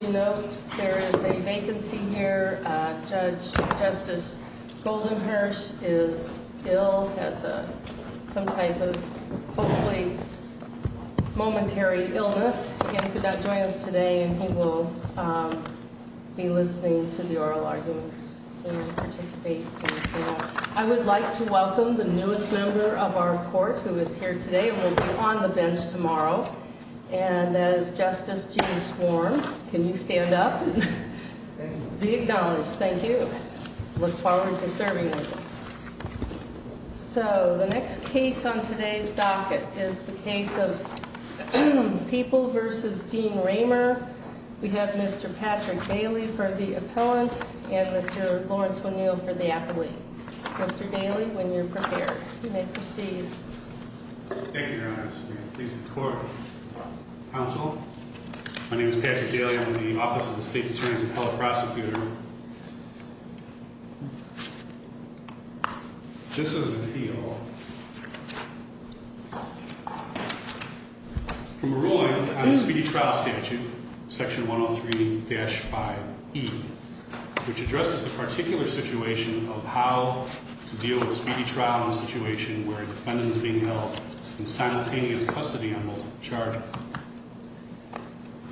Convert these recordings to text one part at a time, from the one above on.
You know, there is a vacancy here. Judge Justice Goldenhurst is ill, has some type of hopefully momentary illness. Again, he could not join us today and he will be listening to the oral arguments and participate. I would like to welcome the newest member of our court who is here today and will be on the bench tomorrow. And that is Justice Gene Swarm. Can you stand up? Be acknowledged. Thank you. I look forward to serving with you. So, the next case on today's docket is the case of People v. Gene Raymer. We have Mr. Patrick Daly for the appellant and Mr. Lawrence O'Neill for the appellee. Mr. Daly, when you're prepared, you may proceed. Thank you, Your Honor. I'm pleased to court. Counsel, my name is Patrick Daly. I'm the Office of the State's Attorney's Appellate Prosecutor. This is an appeal from a ruling on the speedy trial statute, section 103-5e, which addresses the particular situation of how to deal with a speedy trial in a situation where a defendant is being held in simultaneous custody on multiple charges.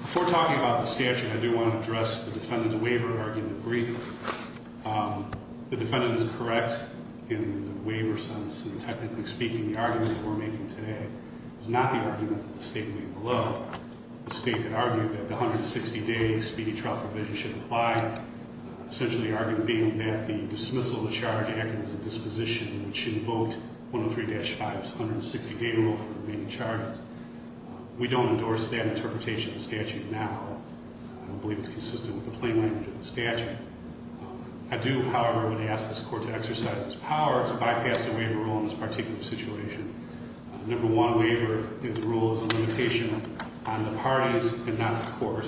Before talking about the statute, I do want to address the defendant's waiver argument briefly. The defendant is correct in the waiver sense. Technically speaking, the argument we're making today is not the argument that the State made below. The State had argued that the 160-day speedy trial provision should apply, essentially the argument being that the dismissal of the charge acted as a disposition, which invoked 103-5's 160-day rule for the remaining charges. We don't endorse that interpretation of the statute now. I don't believe it's consistent with the plain language of the statute. I do, however, want to ask this Court to exercise its power to bypass the waiver rule in this particular situation. Number one, waiver of the rule is a limitation on the parties and not the Court.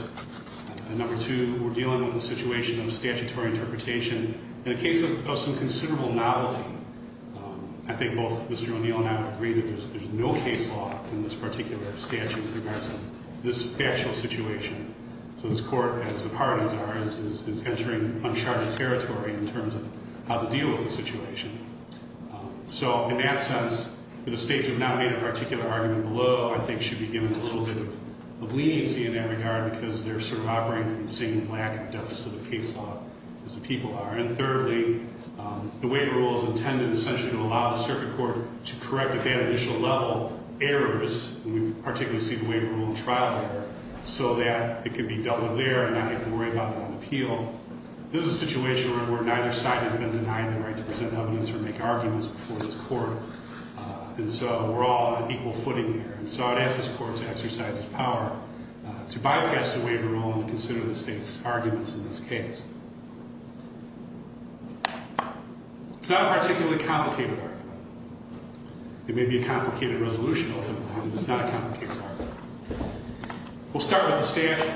And number two, we're dealing with a situation of statutory interpretation. In a case of some considerable novelty, I think both Mr. O'Neill and I would agree that there's no case law in this particular statute with regards to this actual situation. So this Court, as the parties are, is entering uncharted territory in terms of how to deal with the situation. So in that sense, for the State to have nominated a particular argument below, I think should be given a little bit of leniency in that regard because they're sort of operating from the same lack of deficit of case law as the people are. And thirdly, the waiver rule is intended essentially to allow the circuit court to correct at that initial level errors, and we particularly see the waiver rule in trial error, so that it can be dealt with there and not have to worry about it on appeal. Again, this is a situation where neither side has been denied the right to present evidence or make arguments before this Court, and so we're all on an equal footing here. And so I would ask this Court to exercise its power to bypass the waiver rule and consider the State's arguments in this case. It's not a particularly complicated argument. It may be a complicated resolution, ultimately, but it's not a complicated argument. We'll start with the statute.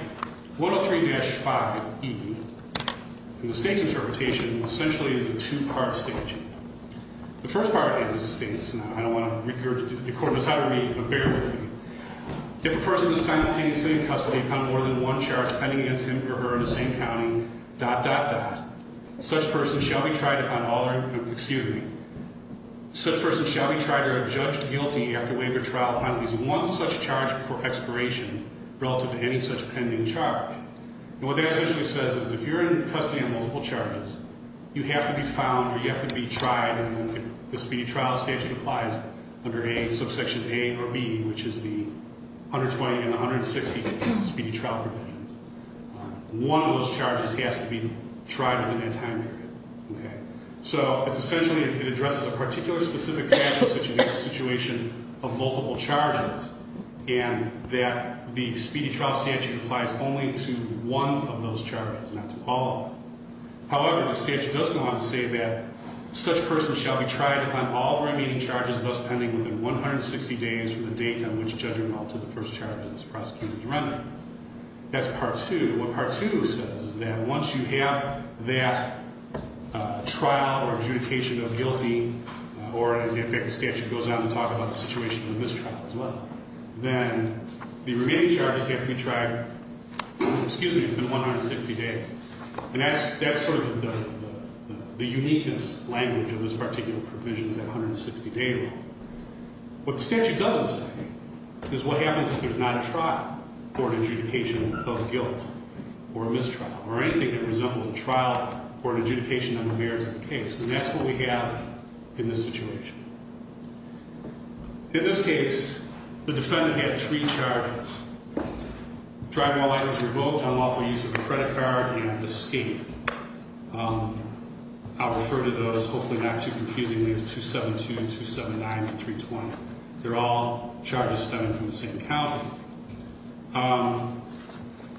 103-5E. And the State's interpretation essentially is a two-part statute. The first part is the State's, and I don't want to – the Court knows how to read it, but bear with me. If a person is simultaneously in custody upon more than one charge pending against him or her in the same county, dot, dot, dot, such person shall be tried upon all – excuse me. Such person shall be tried or judged guilty after waiver trial upon at least one such charge before expiration relative to any such pending charge. And what that essentially says is if you're in custody on multiple charges, you have to be found or you have to be tried, and if the speedy trial statute applies under subsection A or B, which is the 120 and the 160 speedy trial provisions, one of those charges has to be tried within that time period. Okay. So it's essentially – it addresses a particular specific statute situation of multiple charges and that the speedy trial statute applies only to one of those charges, not to all of them. However, the statute does go on to say that such person shall be tried upon all the remaining charges, thus pending within 160 days from the date on which judgmental to the first charge of this prosecution is rendered. That's part two. What part two says is that once you have that trial or adjudication of guilty or in fact the statute goes on to talk about the situation of mistrial as well, then the remaining charges have to be tried – excuse me – within 160 days. And that's sort of the uniqueness language of this particular provision, that 160-day rule. What the statute doesn't say is what happens if there's not a trial or an adjudication of guilt or mistrial or anything that resembles a trial or an adjudication on the merits of the case. And that's what we have in this situation. In this case, the defendant had three charges. Driving while license revoked, unlawful use of a credit card, and escape. I'll refer to those, hopefully not too confusingly, as 272, 279, and 320. They're all charges stemming from the same county.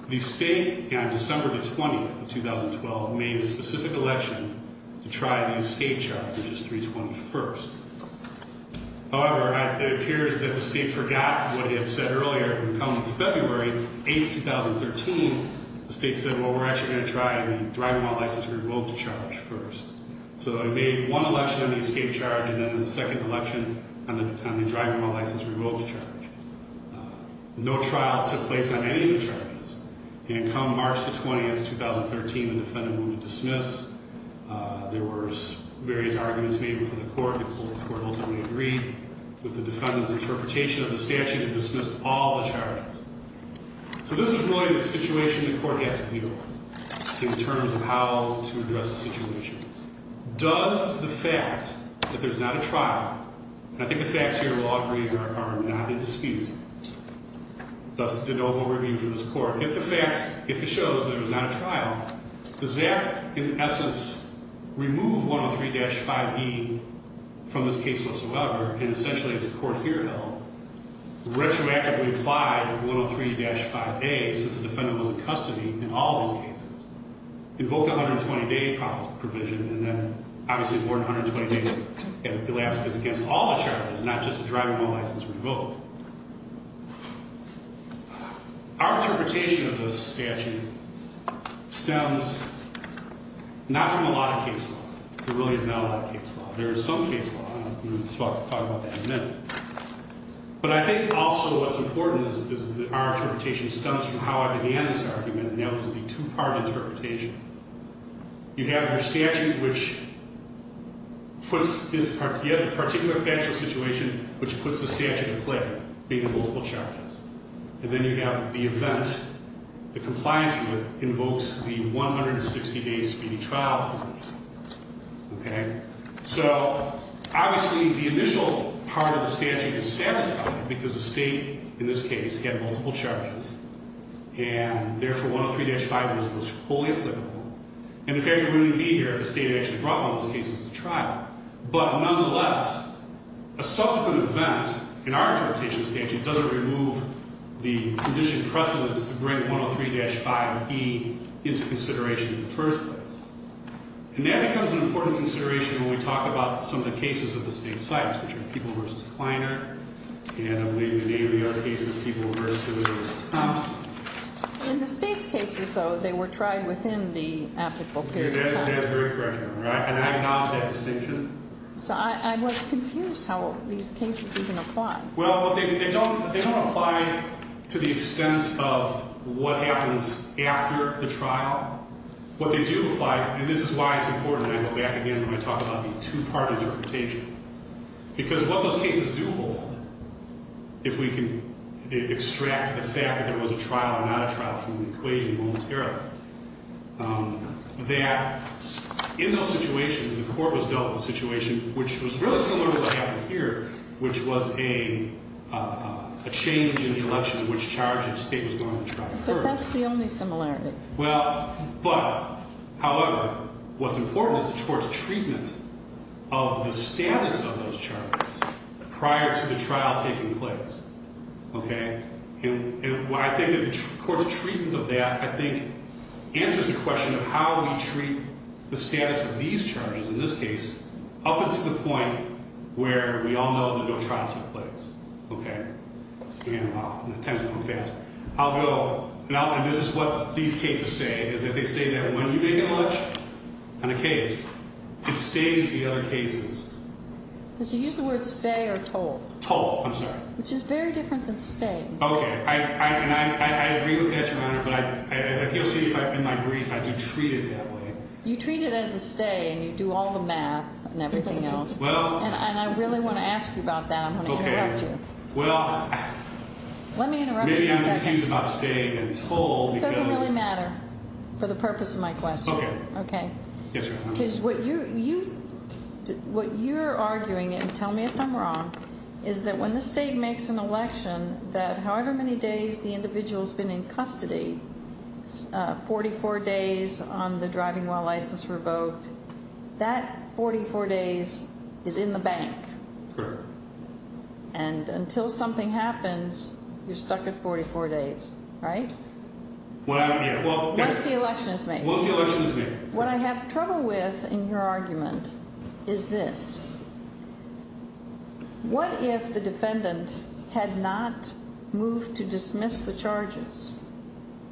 The state on December 20, 2012, made a specific election to try the escape charge, which is 321st. However, it appears that the state forgot what it had said earlier. Come February 8, 2013, the state said, well, we're actually going to try the driving while license revoked charge first. So it made one election on the escape charge and then a second election on the driving while license revoked charge. No trial took place on any of the charges. And come March 20, 2013, the defendant moved to dismiss. There were various arguments made before the court. The court ultimately agreed with the defendant's interpretation of the statute and dismissed all the charges. So this is really the situation the court has to deal with in terms of how to address the situation. Does the fact that there's not a trial, and I think the facts here will all agree are not in dispute. Thus, an oval review from this court. If the facts, if it shows that there's not a trial, does that, in essence, remove 103-5E from this case whatsoever? And essentially, as the court here held, retroactively apply the 103-5A since the defendant was in custody in all of these cases. Invoked a 120-day provision, and then obviously more than 120 days elapsed. It's against all the charges, not just the driving while license revoked. Our interpretation of the statute stems not from a lot of case law. There really is not a lot of case law. There is some case law, and we'll talk about that in a minute. But I think also what's important is that our interpretation stems from how I began this argument, and that was a two-part interpretation. You have your statute, which puts this particular factual situation, which puts the statute at play, being multiple charges. And then you have the event, the compliance with invokes the 160-day speedy trial provision. Okay? So obviously, the initial part of the statute is satisfied because the state, in this case, had multiple charges. And therefore, 103-5 was fully applicable. And the fact that we're going to be here if the state actually brought one of those cases to trial. But nonetheless, a subsequent event in our interpretation of the statute doesn't remove the condition precedent to bring 103-5E into consideration in the first place. And that becomes an important consideration when we talk about some of the cases of the state's sites, which are People v. Kleiner. And I believe in any of the other cases, People v. Thompson. In the state's cases, though, they were tried within the applicable period of time. That is very correct. And I acknowledge that distinction. So I was confused how these cases even apply. Well, they don't apply to the extent of what happens after the trial. What they do apply, and this is why it's important that I go back again when I talk about the two-part interpretation. Because what those cases do hold, if we can extract the fact that there was a trial or not a trial from the equation momentarily, that in those situations, the court was dealt with a situation which was really similar to what happened here, which was a change in the election in which charges the state was going to try first. But that's the only similarity. Well, but, however, what's important is the court's treatment of the status of those charges prior to the trial taking place. Okay? And I think that the court's treatment of that, I think, answers the question of how we treat the status of these charges, in this case, up until the point where we all know that no trial took place. Okay? And, well, time's going fast. I'll go, and this is what these cases say, is that they say that when you make an election on a case, it stays the other cases. Does he use the word stay or toll? Toll. I'm sorry. Which is very different than stay. Okay. And I agree with that, Your Honor, but I feel safe in my brief, I do treat it that way. You treat it as a stay, and you do all the math and everything else. Well. And I really want to ask you about that. I'm going to interrupt you. Well. Let me interrupt you for a second. Maybe I'm confused about stay and toll because. It doesn't really matter for the purpose of my question. Okay. Okay. Yes, Your Honor. Because what you're arguing, and tell me if I'm wrong, is that when the state makes an election, that however many days the individual's been in custody, 44 days on the driving while license revoked, that 44 days is in the bank. Correct. And until something happens, you're stuck at 44 days, right? Well, yeah. Once the election is made. Once the election is made. What I have trouble with in your argument is this. What if the defendant had not moved to dismiss the charges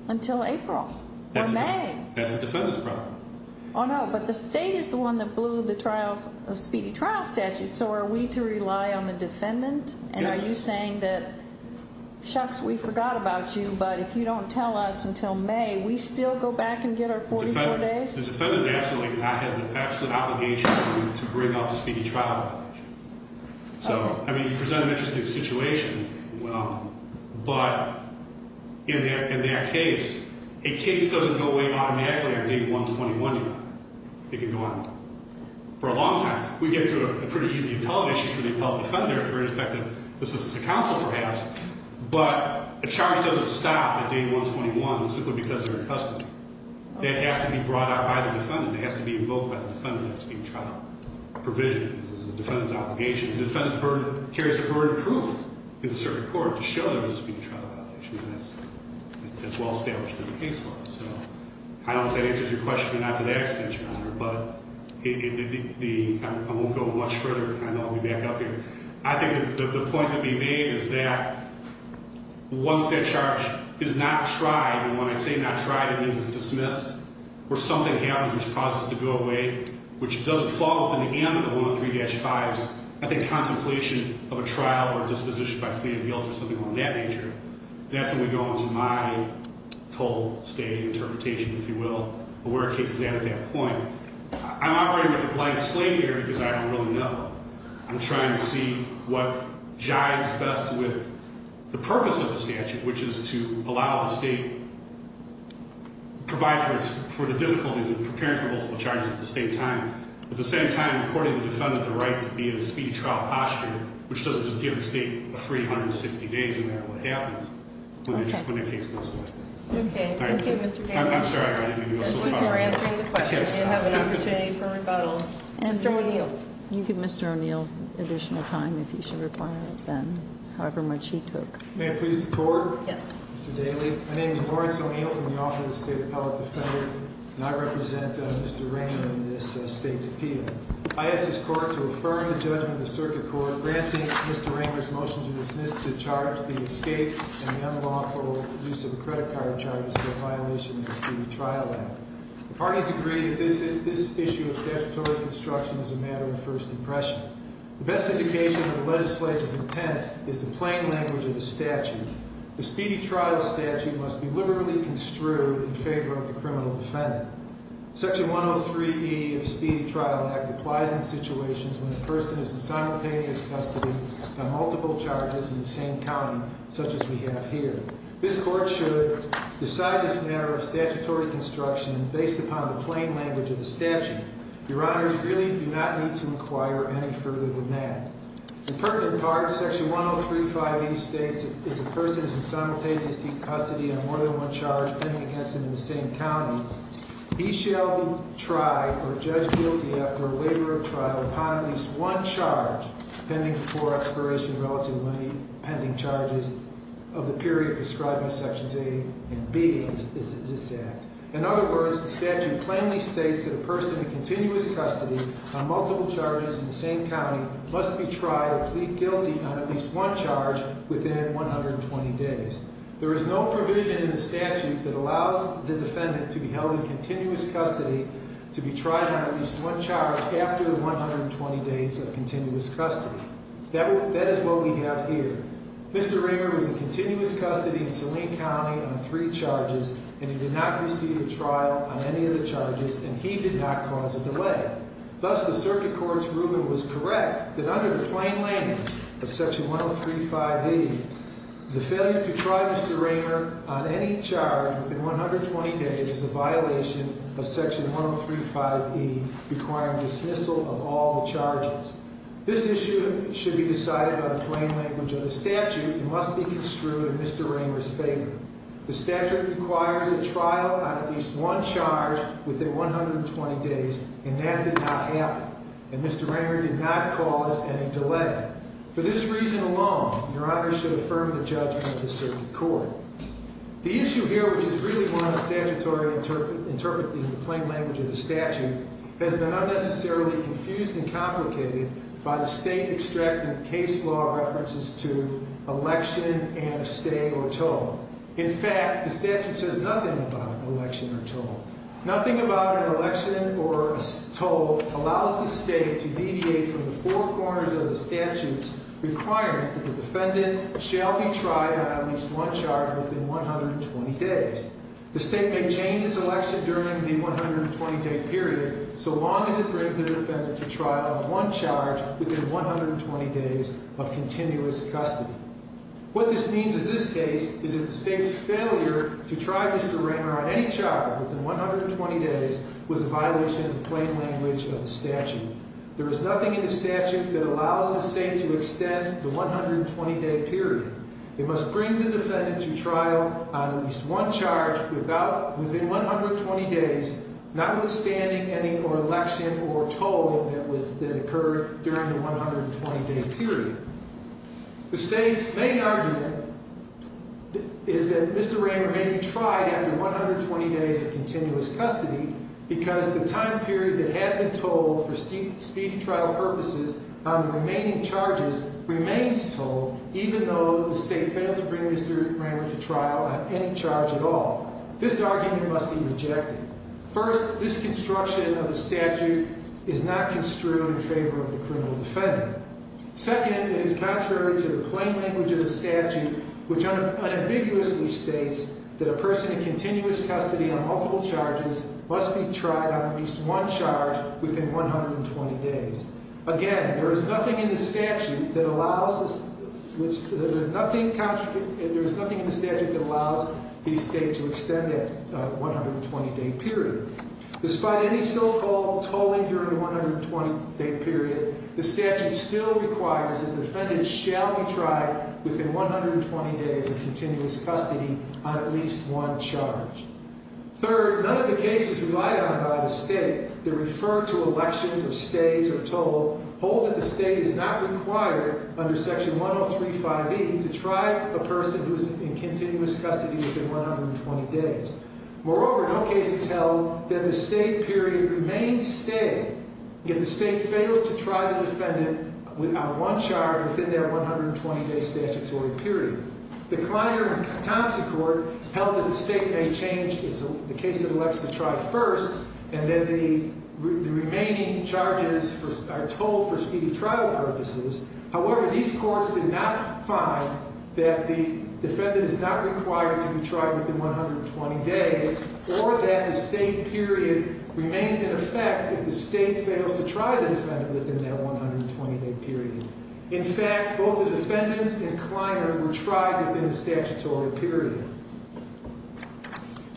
until April or May? That's the defendant's problem. Oh, no. But the state is the one that blew the trial, the speedy trial statute. So are we to rely on the defendant? Yes. And are you saying that, shucks, we forgot about you, but if you don't tell us until May, we still go back and get our 44 days? The defendant actually has an absolute obligation to bring up a speedy trial. So, I mean, you present an interesting situation. But in that case, a case doesn't go away automatically on day 121 even. It can go on for a long time. We get through a pretty easy appellate issue for the appellate defender for the fact that this is a counsel perhaps. But a charge doesn't stop at day 121 simply because they're in custody. It has to be brought out by the defendant. It has to be invoked by the defendant in the speedy trial provision. This is the defendant's obligation. The defendant carries the burden of proof in the circuit court to show there was a speedy trial violation. And that's well established in the case law. So I don't know if that answers your question, but not to that extent, Your Honor. But I won't go much further. I know I'll be back up here. I think the point to be made is that once that charge is not tried, and when I say not tried, it means it's dismissed, or something happens which causes it to go away, which doesn't fall within the ambit of 103-5s. I think contemplation of a trial or disposition by plea of guilt or something of that nature, that's when we go on to my total state interpretation, if you will, of where the case is at at that point. I'm operating with a blind slate here because I don't really know. I'm trying to see what jives best with the purpose of the statute, which is to allow the state to provide for the difficulties in preparing for multiple charges at the state time, at the same time, according to the defendant, the right to be in a speedy trial posture, which doesn't just give the state a 360 days of what happens when the case goes away. Okay. Thank you, Mr. Daly. I'm sorry. We're answering the question. You have an opportunity for rebuttal. Mr. O'Neill. You can give Mr. O'Neill additional time if you should require it then, however much he took. May it please the Court? Yes. Mr. Daly. My name is Lawrence O'Neill from the Office of the State Appellate Defender. And I represent Mr. Ranger in this state's appeal. I ask this Court to affirm the judgment of the Circuit Court granting Mr. Ranger's motion to dismiss the charge, the escape, and the unlawful use of a credit card charges for a violation of the Speedy Trial Act. The parties agree that this issue of statutory construction is a matter of first impression. The best indication of the legislative intent is the plain language of the statute. The Speedy Trial Statute must be liberally construed in favor of the criminal defendant. Section 103E of the Speedy Trial Act applies in situations when a person is in simultaneous custody on multiple charges in the same county, such as we have here. This Court should decide this matter of statutory construction based upon the plain language of the statute. Your Honors really do not need to inquire any further than that. In pertinent parts, Section 103.5E states if a person is in simultaneous custody on more than one charge pending against them in the same county, he shall be tried or judged guilty after a waiver of trial upon at least one charge pending before expiration of relative money, pending charges of the period prescribed by Sections A and B of this Act. In other words, the statute plainly states that a person in continuous custody on multiple charges in the same county must be tried or plead guilty on at least one charge within 120 days. There is no provision in the statute that allows the defendant to be held in continuous custody to be tried on at least one charge after the 120 days of continuous custody. That is what we have here. Mr. Raymer was in continuous custody in Saline County on three charges, and he did not receive a trial on any of the charges, and he did not cause a delay. Thus, the Circuit Court's ruling was correct that under the plain language of Section 103.5E, the failure to try Mr. Raymer on any charge within 120 days is a violation of Section 103.5E requiring dismissal of all charges. This issue should be decided by the plain language of the statute and must be construed in Mr. Raymer's favor. The statute requires a trial on at least one charge within 120 days, and that did not happen, and Mr. Raymer did not cause any delay. For this reason alone, Your Honor should affirm the judgment of the Circuit Court. The issue here, which is really one of the statutory interpreting the plain language of the statute, has been unnecessarily confused and complicated by the state-extracted case law references to election and a stay or toll. In fact, the statute says nothing about an election or toll. The state may change its election during the 120-day period so long as it brings a defendant to trial on one charge within 120 days of continuous custody. What this means in this case is that the state's failure to try Mr. Raymer on any charge within 120 days was a violation of the plain language of the statute. There is nothing in the statute that allows the state to extend the 120-day period. It must bring the defendant to trial on at least one charge within 120 days, notwithstanding any election or toll that occurred during the 120-day period. The state's main argument is that Mr. Raymer may be tried after 120 days of continuous custody because the time period that had been told for speedy trial purposes on the remaining charges remains told, even though the state failed to bring Mr. Raymer to trial on any charge at all. This argument must be rejected. First, this construction of the statute is not construed in favor of the criminal defendant. Second, it is contrary to the plain language of the statute, which unambiguously states that a person in continuous custody on multiple charges must be tried on at least one charge within 120 days. Again, there is nothing in the statute that allows the state to extend that 120-day period. Despite any so-called tolling during the 120-day period, the statute still requires that the defendant shall be tried within 120 days of continuous custody on at least one charge. Third, none of the cases relied on by the state that refer to elections or stays or tolls hold that the state is not required under Section 103.5e to try a person who is in continuous custody within 120 days. Moreover, no cases held that the state period remains stay, yet the state fails to try the defendant on one charge within their 120-day statutory period. The Kleiner-Thompson Court held that the state may change the case it elects to try first, and that the remaining charges are tolled for speedy trial purposes. However, these courts did not find that the defendant is not required to be tried within 120 days or that the state period remains in effect if the state fails to try the defendant within that 120-day period. In fact, both the defendants and Kleiner were tried within a statutory period.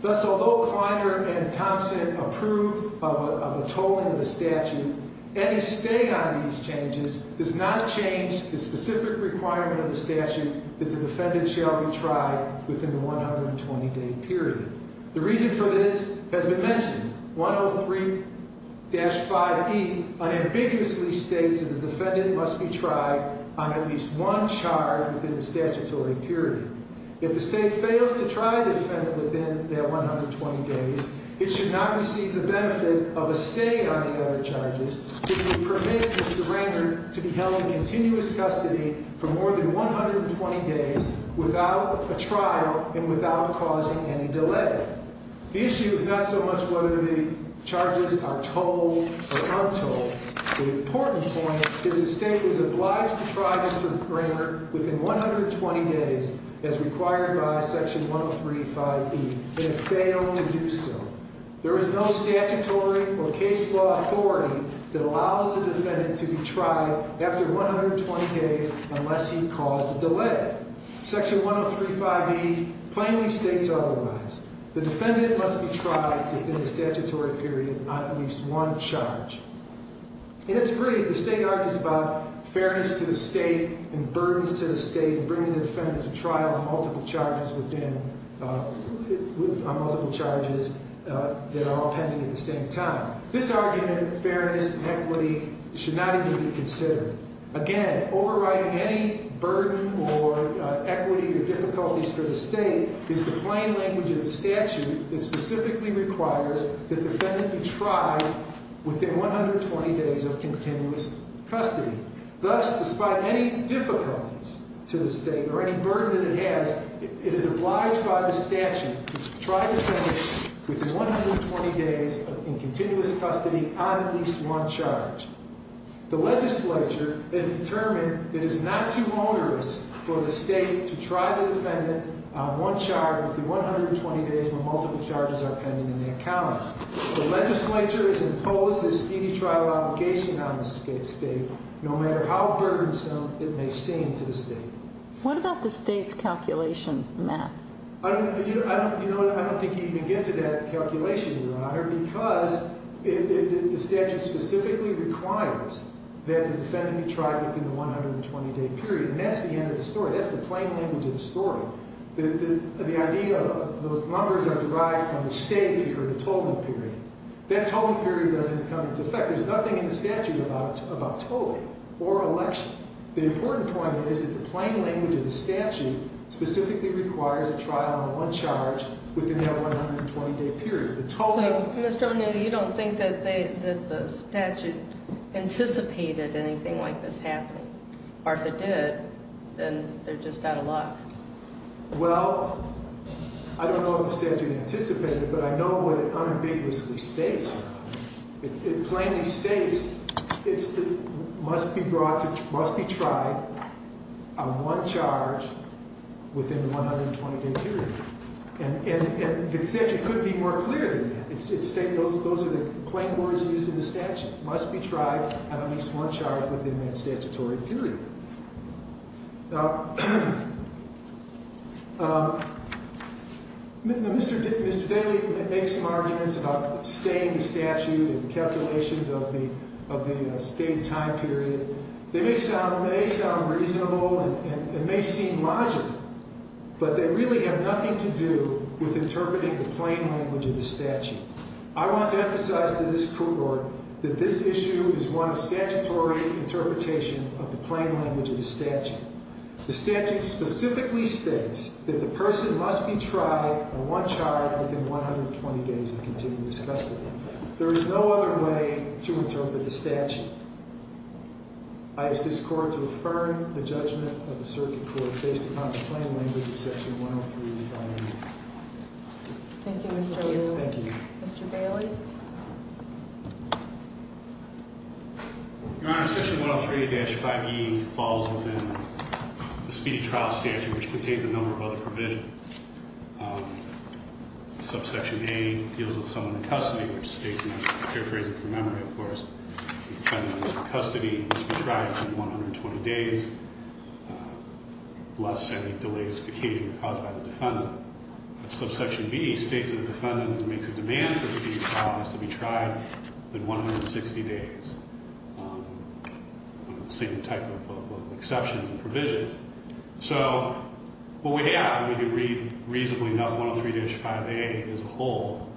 Thus, although Kleiner and Thompson approved of a tolling of the statute, any stay on these changes does not change the specific requirement of the statute that the defendant shall be tried within the 120-day period. The reason for this has been mentioned. 103-5e unambiguously states that the defendant must be tried on at least one charge within the statutory period. If the state fails to try the defendant within their 120 days, it should not receive the benefit of a stay on the other charges if it permits Mr. Rayner to be held in continuous custody for more than 120 days without a trial and without causing any delay. The issue is not so much whether the charges are tolled or untolled. The important point is the state is obliged to try Mr. Rayner within 120 days as required by section 103-5e, and if failed to do so, there is no statutory or case law authority that allows the defendant to be tried after 120 days unless he caused a delay. Section 103-5e plainly states otherwise. The defendant must be tried within the statutory period on at least one charge. In its brief, the state argues about fairness to the state and burdens to the state in bringing the defendant to trial on multiple charges that are all pending at the same time. This argument of fairness and equity should not even be considered. Again, overriding any burden or equity or difficulties for the state is the plain language of the statute that specifically requires the defendant be tried within 120 days of continuous custody. Thus, despite any difficulties to the state or any burden that it has, it is obliged by the statute to try the defendant within 120 days in continuous custody on at least one charge. The legislature has determined it is not too onerous for the state to try the defendant on one charge within 120 days when multiple charges are pending in that county. The legislature has imposed this easy trial obligation on the state no matter how burdensome it may seem to the state. What about the state's calculation math? I don't think you can even get to that calculation, Your Honor, because the statute specifically requires that the defendant be tried within the 120-day period, and that's the end of the story. That's the plain language of the story. The idea of those numbers are derived from the state or the tolling period. That tolling period doesn't come into effect. There's nothing in the statute about tolling or election. The important point is that the plain language of the statute specifically requires a trial on one charge within that 120-day period. So, Mr. O'Neill, you don't think that the statute anticipated anything like this happening, or if it did, then they're just out of luck? Well, I don't know if the statute anticipated it, but I know what it unambiguously states. It plainly states it must be tried on one charge within the 120-day period, and the statute couldn't be more clear than that. Those are the plain words used in the statute. It must be tried on at least one charge within that statutory period. Now, Mr. Daley makes some arguments about staying the statute and the calculations of the stayed time period. They may sound reasonable and may seem logical, but they really have nothing to do with interpreting the plain language of the statute. I want to emphasize to this court that this issue is one of statutory interpretation of the plain language of the statute. The statute specifically states that the person must be tried on one charge within 120 days of continuous custody. There is no other way to interpret the statute. I ask this Court to affirm the judgment of the Circuit Court based upon the plain language of Section 103-5A. Thank you, Mr. Liu. Thank you. Mr. Daley? Your Honor, Section 103-5E falls within the speedy trial statute, which contains a number of other provisions. Subsection A deals with someone in custody, which states, and I'm paraphrasing from memory, of course, the defendant in custody must be tried within 120 days, lest any delays be occasionally caused by the defendant. Subsection B states that the defendant who makes a demand for the speedy trial has to be tried within 160 days. The same type of exceptions and provisions. So what we have, and we can read reasonably enough, 103-5A as a whole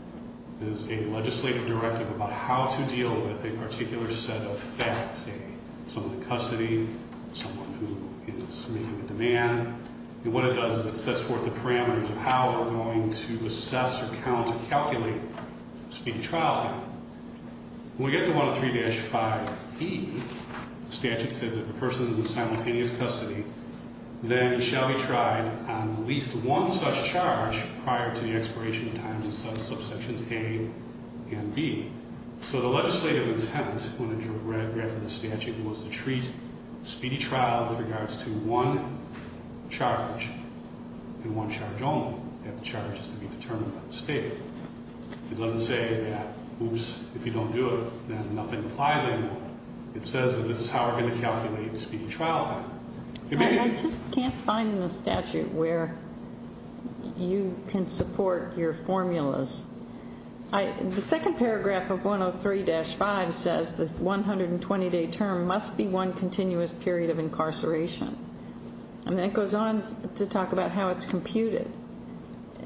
is a legislative directive about how to deal with a particular set of facts, say someone in custody, someone who is making a demand. And what it does is it sets forth the parameters of how we're going to assess or count or calculate speedy trial time. When we get to 103-5E, the statute says if the person is in simultaneous custody, then he shall be tried on at least one such charge prior to the expiration of time in subsections A and B. So the legislative intent when it was read for the statute was to treat speedy trial with regards to one charge and one charge only, that the charge is to be determined by the state. It doesn't say, oops, if you don't do it, then nothing applies anymore. It says that this is how we're going to calculate speedy trial time. I just can't find in the statute where you can support your formulas. The second paragraph of 103-5 says the 120-day term must be one continuous period of incarceration. And then it goes on to talk about how it's computed.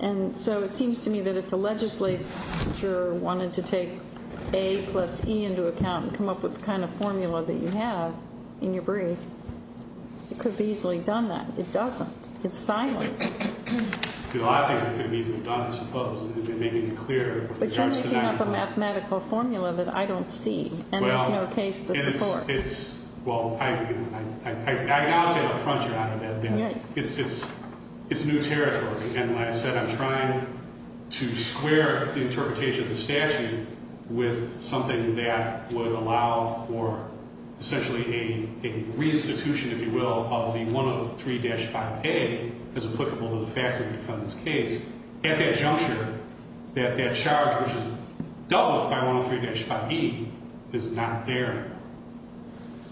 And so it seems to me that if the legislature wanted to take A plus E into account and come up with the kind of formula that you have in your brief, it could be easily done that. It doesn't. It's silent. There are a lot of things that could be easily done, I suppose, if they're making it clear. But you're making up a mathematical formula that I don't see, and there's no case to support. Well, I acknowledge that up front, Your Honor, that it's new territory. And like I said, I'm trying to square the interpretation of the statute with something that would allow for essentially a re-institution, if you will, of the 103-5A as applicable to the facts of the defendant's case. At that juncture, that charge, which is doubled by 103-5E, is not there.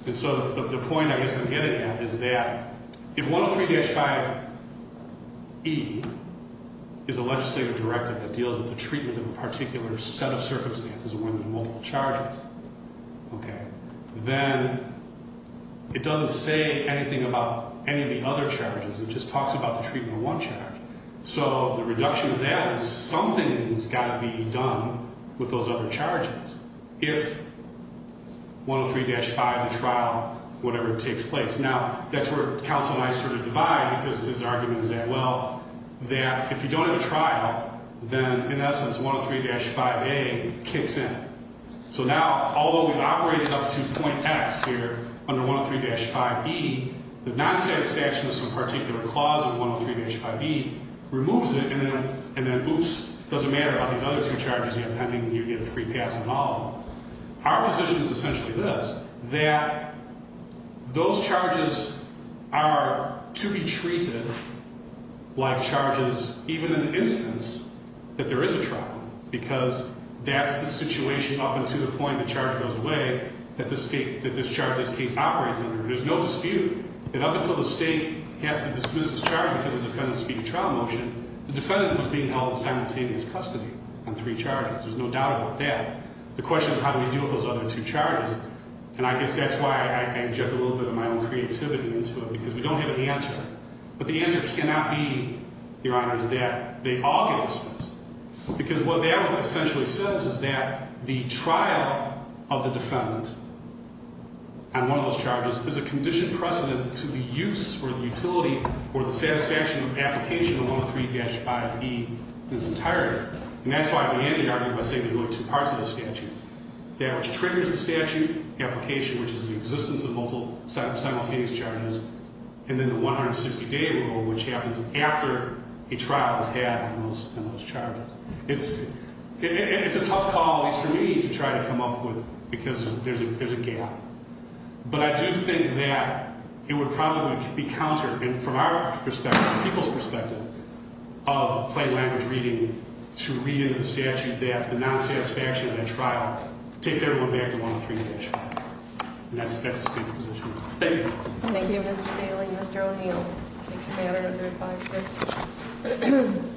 And so the point I guess I'm getting at is that if 103-5E is a legislative directive that deals with the treatment of a particular set of circumstances within multiple charges, then it doesn't say anything about any of the other charges. It just talks about the treatment of one charge. So the reduction of that is something's got to be done with those other charges, if 103-5, the trial, whatever, takes place. Now, that's where counsel and I sort of divide, because his argument is that, well, that if you don't have a trial, then in essence, 103-5A kicks in. So now, although we've operated up to point X here under 103-5E, the non-satisfaction of some particular clause of 103-5E removes it, and then, oops, it doesn't matter about these other two charges, depending on whether you get a free pass or not. Our position is essentially this, that those charges are to be treated like charges, even in the instance that there is a trial, because that's the situation up until the point the charge goes away that this charge, this case, operates under. There's no dispute that up until the state has to dismiss this charge because the defendant is speaking trial motion, the defendant was being held in simultaneous custody on three charges. There's no doubt about that. The question is how do we deal with those other two charges, and I guess that's why I inject a little bit of my own creativity into it, because we don't have an answer. But the answer cannot be, Your Honor, is that they all get dismissed, because what that essentially says is that the trial of the defendant on one of those charges is a conditioned precedent to the use or the utility or the satisfaction of application of 103-5E in its entirety. And that's why we end the argument by saying there are two parts of the statute, that which triggers the statute, application, which is the existence of simultaneous charges, and then the 160-day rule, which happens after a trial is had on those charges. It's a tough call, at least for me, to try to come up with because there's a gap. But I do think that it would probably be counter, and from our perspective, the people's perspective, of plain language reading to read into the statute that the non-satisfaction of that trial takes everyone back to 103-H. And that's the state's position. Thank you. Thank you, Mr. Bailey. Ms. Jones, you'll take the matter under 5-6.